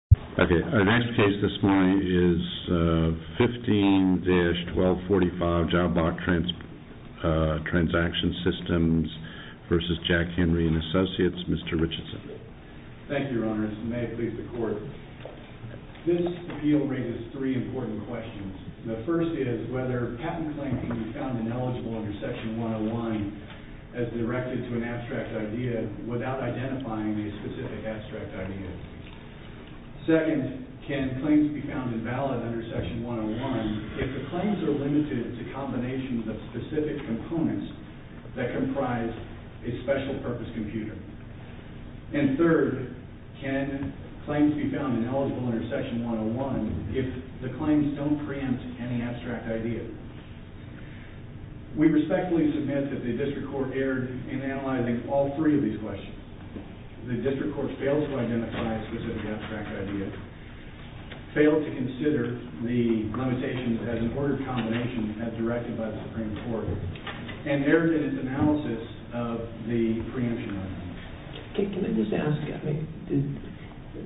Q. This appeal raises three important questions. The first is whether a patent claim can be found ineligible under Section 101 as directed to an abstract idea without identifying the specific abstract idea. Second, can claims be found invalid under Section 101 if the claims are limited to combinations of specific components that comprise a special purpose computer? And third, can claims be found ineligible under Section 101 if the claims don't preempt any abstract idea? We respectfully submit that the District Court erred in analyzing all three of these questions. The District Court failed to identify a specific abstract idea, failed to consider the limitations as an ordered combination as directed by the Supreme Court, and erred in its analysis of the preemption argument. Can I just ask,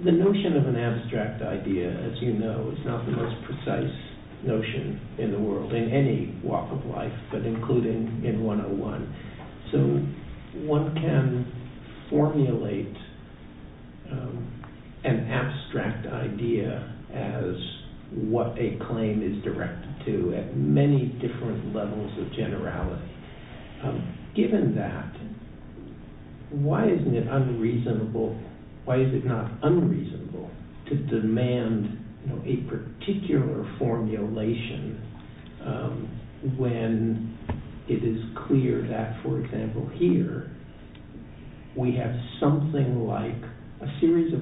the notion of an abstract idea, as you know, is not the most precise notion in the world, in any walk of life, but including in 101. So one can formulate an abstract idea as what a claim is directed to at many different levels of generality. Given that, why isn't it unreasonable, why is it not unreasonable to demand a particular formulation when it is clear that, for example here, we have something like a series of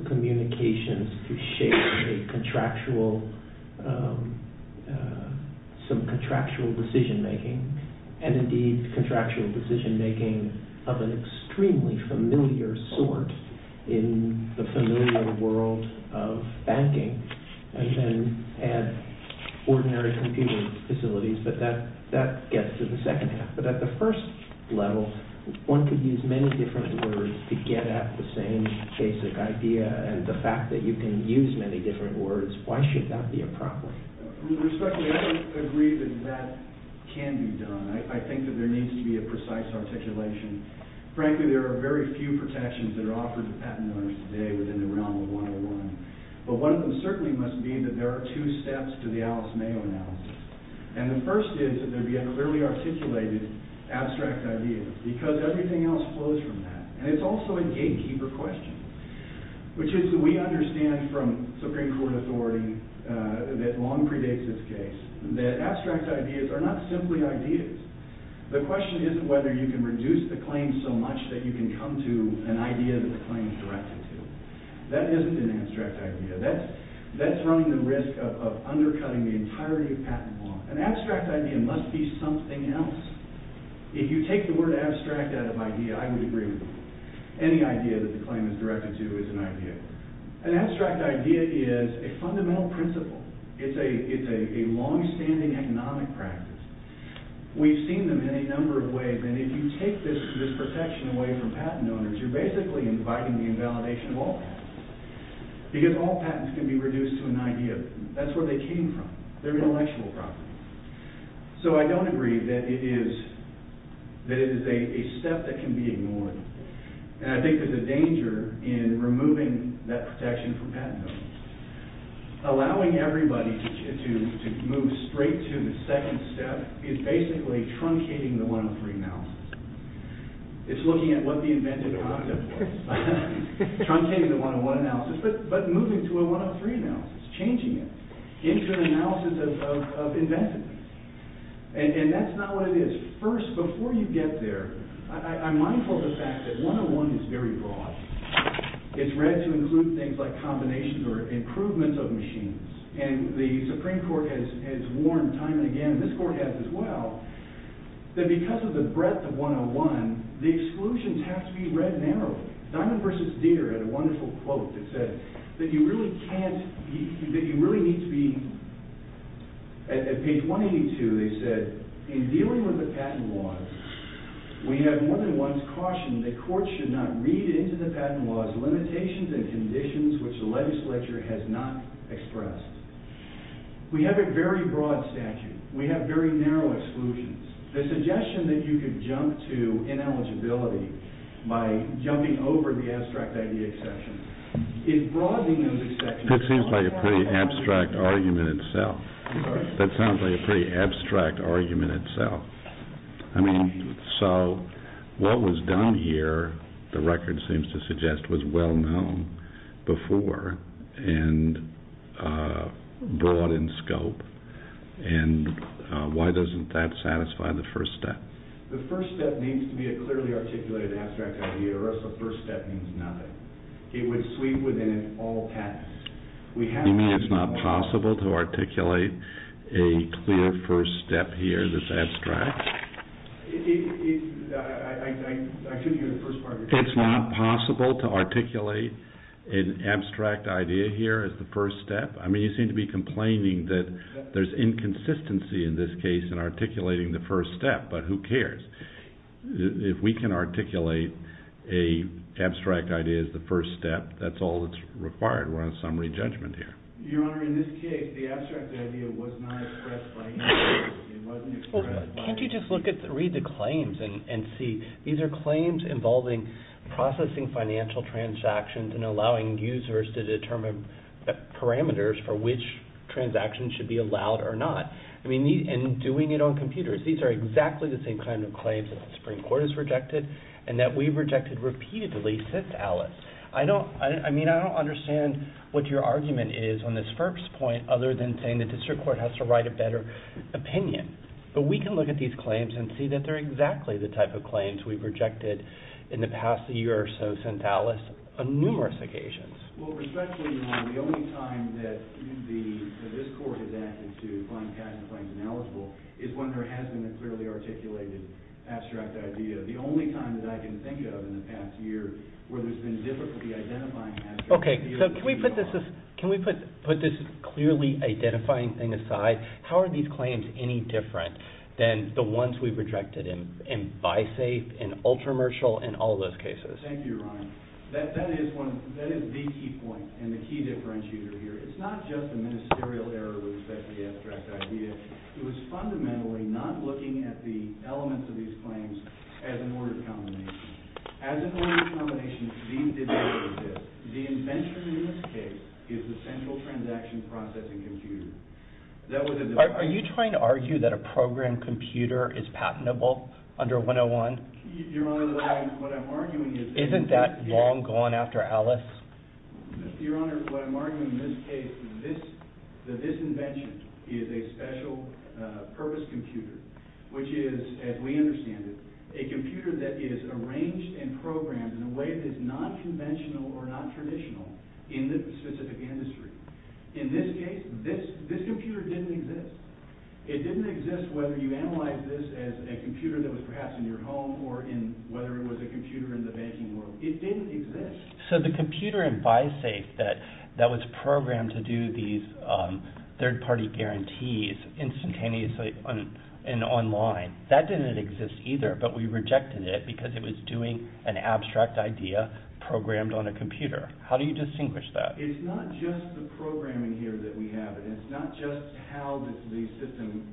contractual decision-making of an extremely familiar sort in the familiar world of banking, and then add ordinary computer facilities, but that gets to the second half. But at the first level, one could use many different words to get at the same basic idea, and the fact that you can use many different words, why should that be a problem? Respectfully, I don't agree that that can be done. I think that there needs to be a precise articulation. Frankly, there are very few protections that are offered to patent owners today within the realm of 101, but one of them certainly must be that there are two steps to the Alice Mayo analysis. And the first is that there be a clearly articulated abstract idea, because everything else flows from that. And it's also a gatekeeper question, which is that we understand from Supreme Court authority that long predates this case, that abstract ideas are not simply ideas. The question isn't whether you can reduce the claim so much that you can come to an idea that the claim is directed to. That isn't an abstract idea. That's running the risk of undercutting the entirety of patent law. An abstract idea must be something else. If you take the word abstract out of idea, I think what it's directed to is an idea. An abstract idea is a fundamental principle. It's a longstanding economic practice. We've seen them in a number of ways, and if you take this protection away from patent owners, you're basically inviting the invalidation of all patents, because all patents can be reduced to an idea. That's where they came from. They're intellectual property. So I don't agree that it is a step that can be taken in removing that protection from patent owners. Allowing everybody to move straight to the second step is basically truncating the 103 analysis. It's looking at what the invented concept was. Truncating the 101 analysis, but moving to a 103 analysis, changing it into an analysis of inventiveness. And that's not what it is. First, before you get there, I'm mindful of the fact that 101 is very broad. It's read to include things like combinations or improvements of machines. And the Supreme Court has warned time and again, and this court has as well, that because of the breadth of 101, the exclusions have to be read narrowly. Diamond versus Deere had a wonderful quote that said that you really need to be, at page 182, they said, in dealing with the patent laws, we have more than once cautioned that courts should not read into the patent laws limitations and conditions which the legislature has not expressed. We have a very broad statute. We have very narrow exclusions. The suggestion that you could jump to ineligibility by jumping over the abstract idea exception, in broadening It seems like a pretty abstract argument itself. That sounds like a pretty abstract argument itself. I mean, so what was done here, the record seems to suggest, was well known before and broad in scope. And why doesn't that satisfy the first step? The first step needs to be a clearly articulated abstract idea or else the first step means You mean it's not possible to articulate a clear first step here that's abstract? It's not possible to articulate an abstract idea here as the first step? I mean, you seem to be complaining that there's inconsistency in this case in articulating the first step, but who cares? If we can articulate an abstract idea as the first step, that's all that's required. We're on summary judgment here. Your Honor, in this case, the abstract idea was not expressed by either of you. Can't you just read the claims and see? These are claims involving processing financial transactions and allowing users to determine parameters for which transactions should be allowed or not, and doing it on computers. These are exactly the same kind of claims that the Supreme Court has rejected and that we've rejected repeatedly since Alice. I don't understand what your argument is on this first point other than saying the district court has to write a better opinion. But we can look at these claims and see that they're exactly the type of claims we've rejected in the past year or so since Alice on numerous occasions. Well, respectfully, Your Honor, the only time that this court has acted to find patent claims ineligible is when there hasn't been a clearly articulated abstract idea. The only time that I can think of in the past year where there's been difficulty identifying abstract ideas is... Okay, so can we put this clearly identifying thing aside? How are these claims any different than the ones we've rejected in BiSafe, in Ultramercial, in all those cases? Thank you, Your Honor. That is the key point and the key differentiator here. It's not just the ministerial error with respect to the abstract idea. It was fundamentally not looking at the elements of these claims as an order of combination. As an order of combination, the invention in this case is the central transaction processing computer. Are you trying to argue that a program computer is patentable under 101? Your Honor, what I'm arguing is... Isn't that long gone after Alice? Your Honor, what I'm arguing in this case is that this invention is a special purpose computer, which is, as we understand it, a computer that is arranged and programmed in a way that is non-conventional or non-traditional in the specific industry. In this case, this computer didn't exist. It didn't exist whether you analyzed this as a computer that was perhaps in your home or whether it was a computer in the banking world. It didn't exist. So the computer in BiSafe that was programmed to do these third-party guarantees instantaneously and online, that didn't exist either, but we rejected it because it was doing an abstract idea programmed on a computer. How do you distinguish that? It's not just the programming here that we have. It's not just how the system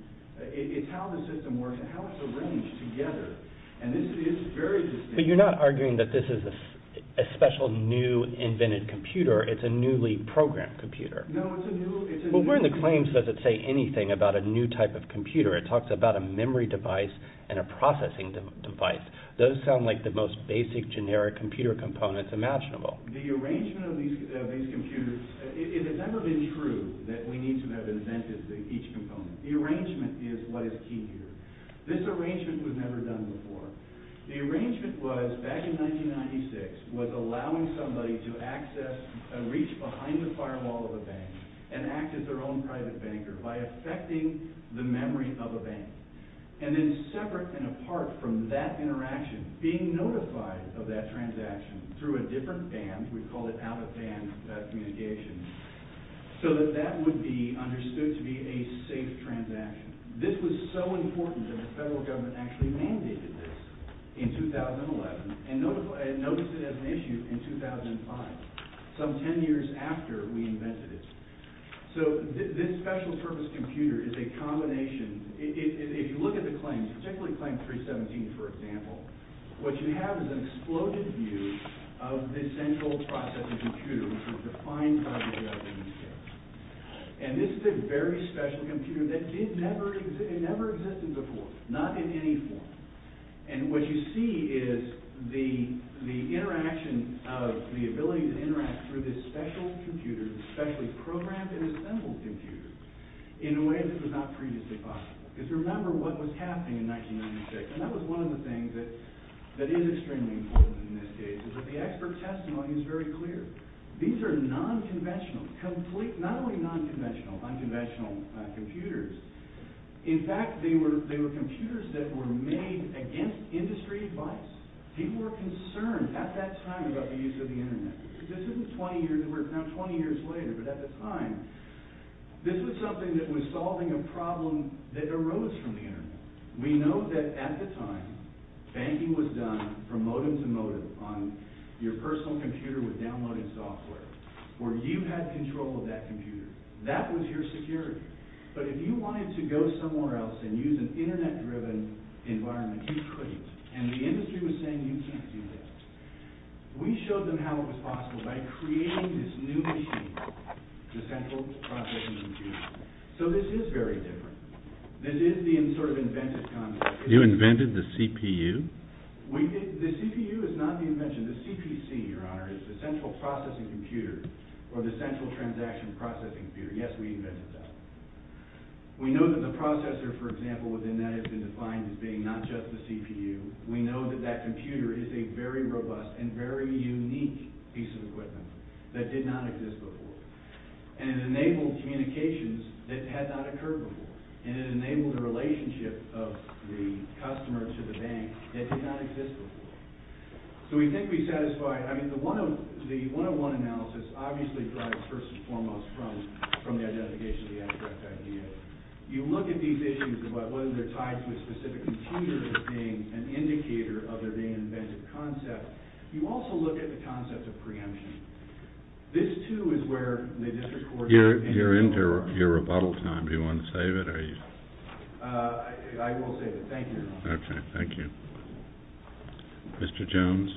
works. It's how it's arranged together. And this is very distinct. But you're not arguing that this is a special new invented computer. It's a newly programmed computer. No, it's a new... Well, where in the claims does it say anything about a new type of computer? It talks about a memory device and a processing device. Those sound like the most basic generic computer components imaginable. The arrangement of these computers, it has never been true that we need to have invented each component. The arrangement is what is key here. This arrangement was never done before. The arrangement was, back in 1996, was allowing somebody to access and reach behind the firewall of a bank and act as their own private banker by affecting the memory of a bank. And then separate and apart from that interaction, being notified of that transaction through a different band, we call it out-of-band communication, so that that would be understood to be a safe transaction. This was so important that the federal government actually mandated this in 2011 and noticed it as an issue in 2005, some 10 years after we invented it. So this special purpose computer is a combination... If you look at the claims, particularly Claim 317, for example, what you have is an exploded view of this central processing computer which was defined by the U.S. EPA. And this is a very special computer that never existed before, not in any form. And what you see is the interaction of the ability to interact through this special computer, this specially programmed and assembled computer, in a way that was not previously possible. Because remember what was happening in 1996, and that was one of the things that is extremely important in this case, is that the expert testimony is very clear. These are non-conventional, not only non-conventional, but unconventional computers. In fact, they were computers that were made against industry advice. People were concerned at that time about the use of the Internet. This is 20 years later, but at the time, this was something that was solving a problem that arose from the Internet. We know that at the time, banking was done from modem to modem on your personal computer with downloaded software, where you had control of that computer. That was your security. But if you wanted to go somewhere else and use an Internet-driven environment, you couldn't. And the industry was saying you can't do that. We showed them how it was possible by creating this new machine, the Central Processing Computer. So this is very different. This is the sort of invented concept. You invented the CPU? The CPU is not the invention. The CPC, Your Honor, is the Central Processing Computer, or the Central Transaction Processing Computer. Yes, we know that the processor, for example, within that has been defined as being not just the CPU. We know that that computer is a very robust and very unique piece of equipment that did not exist before. And it enabled communications that had not occurred before. And it enabled the relationship of the customer to the bank that did not exist before. So we think we satisfy, I mean, the one-on-one analysis obviously derives first and foremost from the identification of the incorrect idea. You look at these issues about whether they're tied to a specific computer as being an indicator of their being an invented concept. You also look at the concept of preemption. This, too, is where the district court... You're into your rebuttal time. Do you want to save it? I will save it. Thank you, Your Honor. Okay. Thank you. Mr. Jones?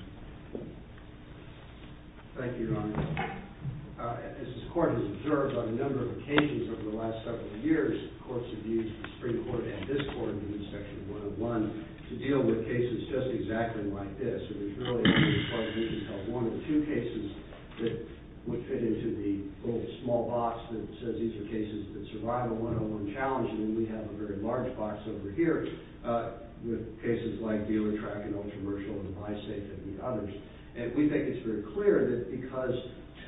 Thank you, Your Honor. As this court has observed on a number of occasions over the last several years, courts have used the Supreme Court and this court in Section 101 to deal with cases just exactly like this. It was really a case where we could have one or two cases that would fit into the little small box that says these are cases that survive a one-on-one challenge. And then we have a very large box over here with cases like dealer tracking and ultramercial and buy safe and the others. And we think it's very clear that because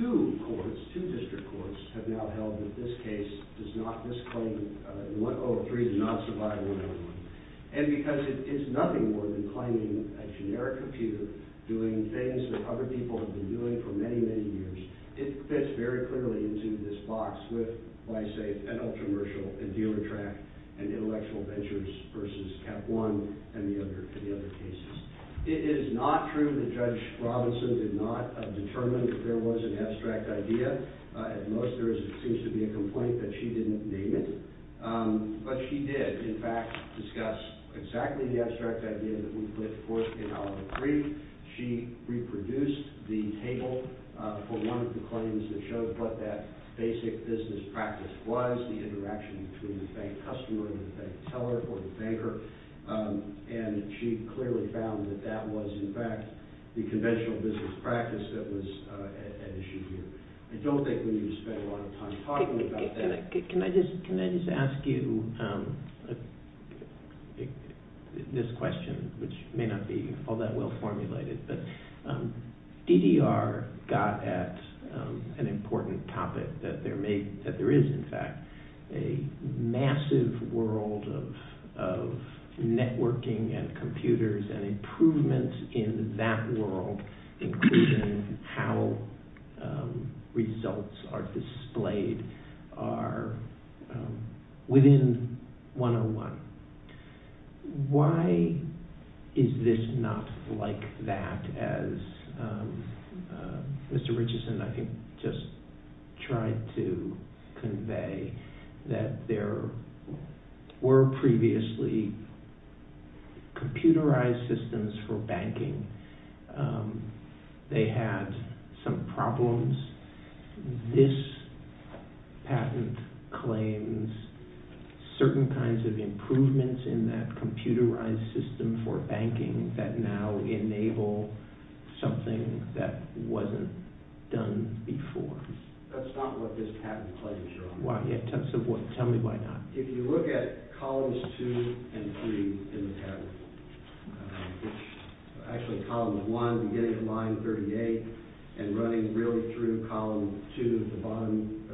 two courts, two district courts, have now held that this case does not, this claim in 103 does not survive a one-on-one. And because it is nothing more than claiming a generic computer doing things that other people have been doing for many, many years, it fits very clearly into this box with buy safe and ultramercial and dealer track and intellectual ventures versus Cap One and the other cases. It is not true that Judge Robinson did not determine that there was an abstract idea. At most, there seems to be a complaint that she didn't name it. But she did, in fact, discuss exactly the abstract idea that we put forth in our brief. She reproduced the table for one of the claims that shows what that basic business practice was, the interaction between the bank customer and the bank teller or the banker. And she clearly found that that was, in fact, the conventional business practice that was at issue here. I don't think we need to spend a lot of time talking about that. Can I just ask you this question, which may not be all that well formulated, but DDR got at an important topic that there is, in fact, a massive world of networking and computers and improvements in that world, including how results are displayed are within 101. Why is this not like that as Mr. Richardson, I think, just tried to convey that there were previously computerized systems for banking. They had some problems. This patent claims certain kinds of improvements in that computerized system for banking that now enable something that wasn't done before. That's not what this patent claims are on. Tell me why not. If you look at columns two and three in the patent, actually column one beginning line 38 and running really through column two at the bottom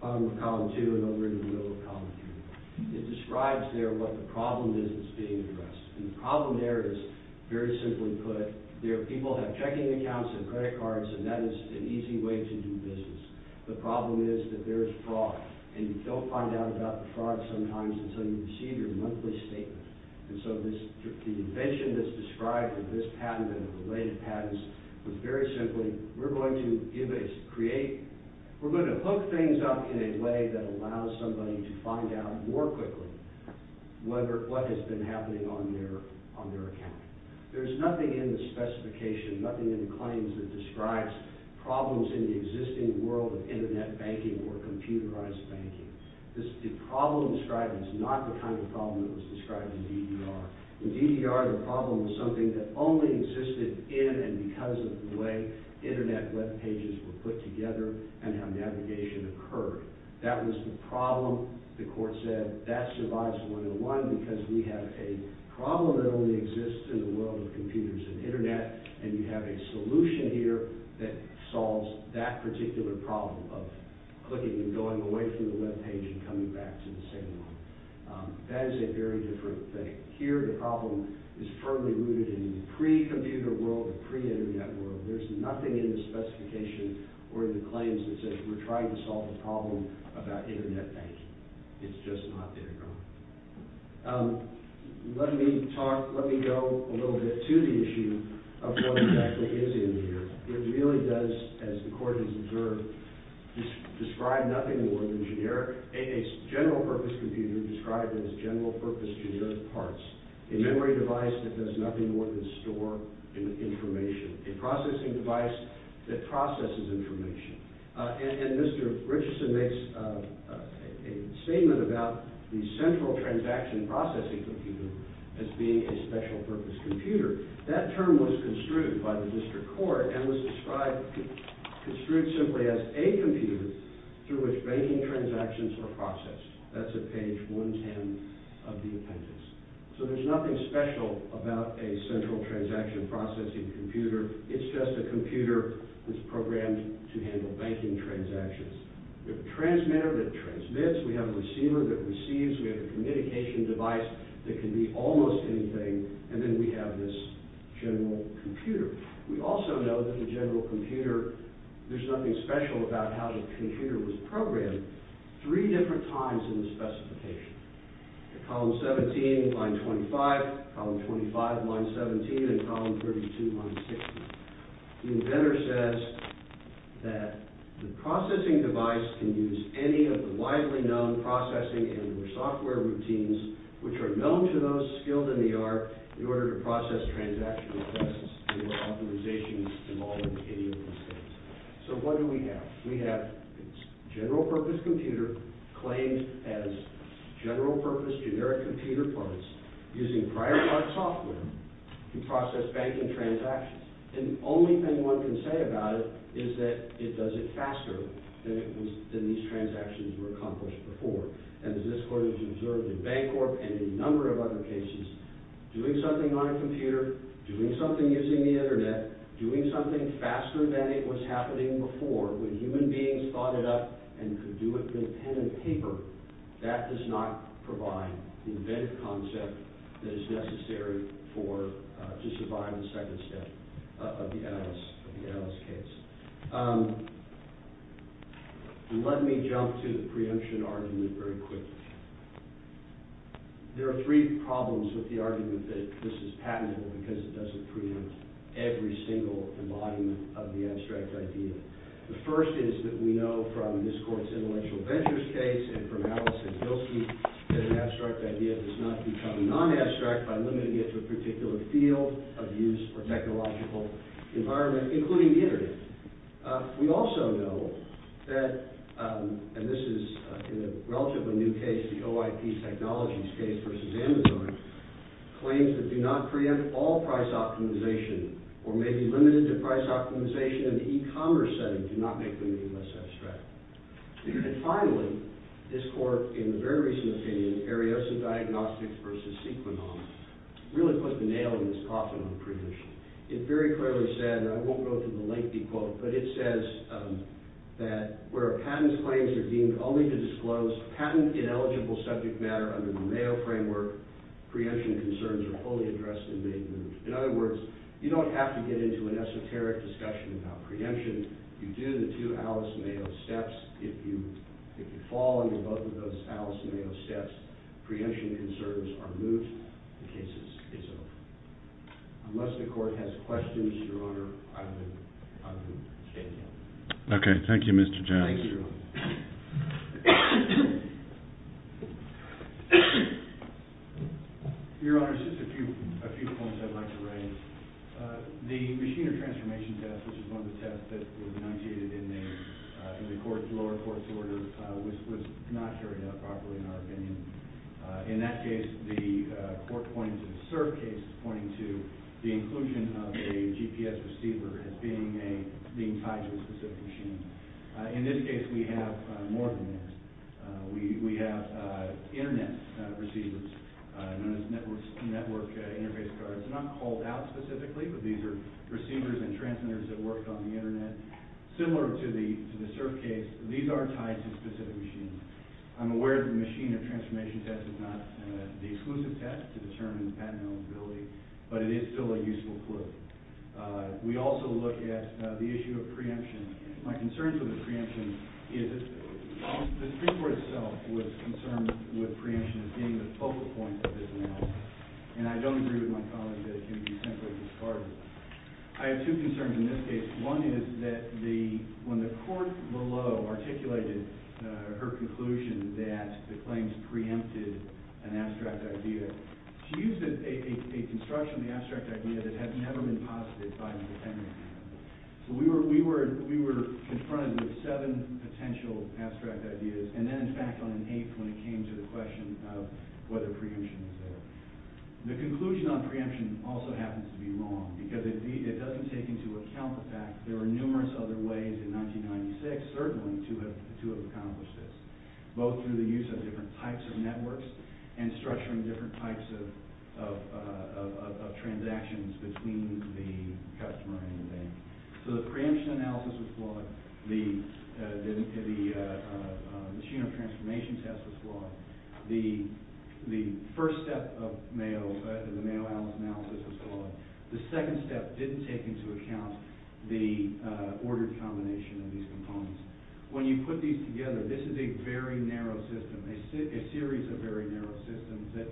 of column two and over into the middle of column three. It describes there what the problem is that's being addressed. And the problem there is, very simply put, people have checking accounts and credit cards and that is an easy way to do business. The problem is that there is fraud. And you don't find out about the fraud sometimes until you receive your monthly statement. And so the invention that's described in this patent and the related patents is very simply, we're going to hook things up in a way that allows somebody to find out more quickly what has been happening on their account. There's nothing in the specification, nothing in the claims that describes problems in the existing world of internet banking or computerized banking. The problem described is not the kind of problem that was described in DDR. In DDR the problem was something that only existed in and because of the way internet web pages were put together and how navigation occurred. That was the problem, the court said, that survives 101 because we have a problem that only exists in the world of computers and internet and you have a solution here that solves that particular problem of clicking and going away from the web page and coming back to the same one. That is a very different thing. Here the problem is firmly rooted in the pre-computer world, the pre-internet world. There's nothing in the specification or in the claims that says we're trying to solve a problem about internet banking. It's just not there. Let me talk, let me go a little bit to the issue of what exactly is in here. It really does, as the court has observed, describe nothing more than generic, a general purpose computer described as general purpose generic parts. A memory device that does nothing more than store information. A processing device that processes information. And Mr. Richardson makes a statement about the central transaction processing computer as being a special purpose computer. That term was construed by the district court and was described, construed simply as a computer through which banking transactions were processed. That's at page 110 of the appendix. So there's nothing special about a central transaction processing computer. It's just a computer that's programmed to handle banking transactions. We have a transmitter that transmits, we have a receiver that receives, we have a communication device that can be almost anything, and then we have this general computer. We also know that the general computer, there's nothing special about how the computer was programmed three different times in the specification. Column 17, line 25, column 25, line 17, and column 32, line 16. The inventor says that the processing device can use any of the widely known processing and software routines which are known to those skilled in the art in order to process transactional requests through authorizations involving any of these things. So what do we have? We have a general purpose computer claimed as general purpose generic computer parts using prior part software to process banking transactions. And the only thing one can say about it is that it does it faster than these transactions were accomplished before. And as this court has observed in Bancorp and a number of other cases, doing something on a computer, doing something using the internet, doing something faster than it was happening before when human beings thought it up and could do it with a pen and paper, that does not provide the inventive concept that is necessary to survive on the second step of the Alice case. Let me jump to the preemption argument very quickly. There are three problems with the argument that this is patentable because it doesn't preempt every single embodiment of the abstract idea. The first is that we know from this court's intellectual ventures case and from Alice and Gilsky that an abstract idea does not become non-abstract by limiting it to a particular field of use or technological environment, including the internet. We also know that, and this is in a relatively new case, the OIP Technologies case versus Amazon, claims that do not preempt all price optimization or may be limited to price optimization in the e-commerce setting do not make limiting less abstract. And finally, this court, in the very recent opinion, Arioso Diagnostics versus Sequinon, really put the nail in this coffin on preemption. It very clearly said, and I won't go through the lengthy quote, but it says that where a patent's claims are deemed only to disclose patent-ineligible subject matter under the Mayo framework, preemption concerns are fully addressed and made known. In other words, you don't have to get into an esoteric discussion about preemption. You do the two Alice-Mayo steps. If you fall under both of those Alice-Mayo steps, preemption concerns are moved. The case is over. Unless the court has questions, Your Honor, I would stay silent. Okay. Thank you, Mr. Jackson. Thank you, Your Honor. Your Honor, just a few points I'd like to raise. The machine or transformation test, which is one of the tests that was enunciated in the lower court's order, was not carried out properly in our opinion. In that case, the court pointed to the CERF case pointing to the inclusion of a GPS receiver as being tied to a specific machine. In this case, we have more than this. We have internet receivers known as network interface cards. They're not called out specifically, but these are receivers and transmitters that work on the internet. Similar to the CERF case, these are tied to specific machines. I'm aware the machine or transformation test is not the exclusive test to determine patent-ineligibility, but it is still a useful clue. We also look at the issue of preemption. My concerns with preemption is the Supreme Court itself was concerned with preemption as being the focal point of this analysis, and I don't agree with my colleague that it can be simply discarded. I have two concerns in this case. One is that when the court below articulated her conclusion that the claims preempted an abstract idea, she used a construction of the abstract idea that had never been posited by the defendant. We were confronted with seven potential abstract ideas, and then in fact on an eighth when it came to the question of whether preemption was there. The conclusion on preemption also happens to be wrong, because it doesn't take into account the fact there were numerous other ways in 1996, certainly, to have accomplished this, both through the use of different types of networks and structuring different types of transactions between the customer and the bank. So the preemption analysis was flawed. The machine or transformation test was flawed. The first step of the Mayo Alice analysis was flawed. The second step didn't take into account the ordered combination of these components. When you put these together, this is a very narrow system, a series of very narrow systems that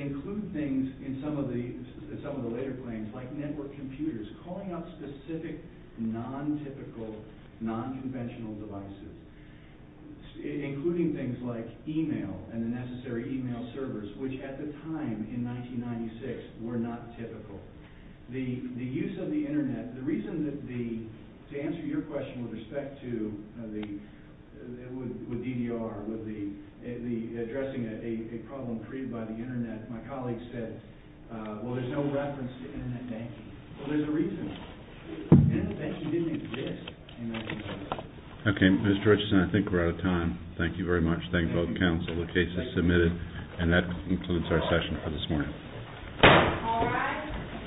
include things in some of the later claims, like network computers, calling out specific non-typical, non-conventional devices, including things like email and the necessary email servers, which at the time in 1996 were not typical. The use of the internet, the My colleague said, well, there's no reference to internet banking. Well, there's a reason. Internet banking didn't exist in 1996. Okay, Mr. Richardson, I think we're out of time. Thank you very much. Thank you both counsel. The case is submitted, and that concludes our session for this morning. All rise.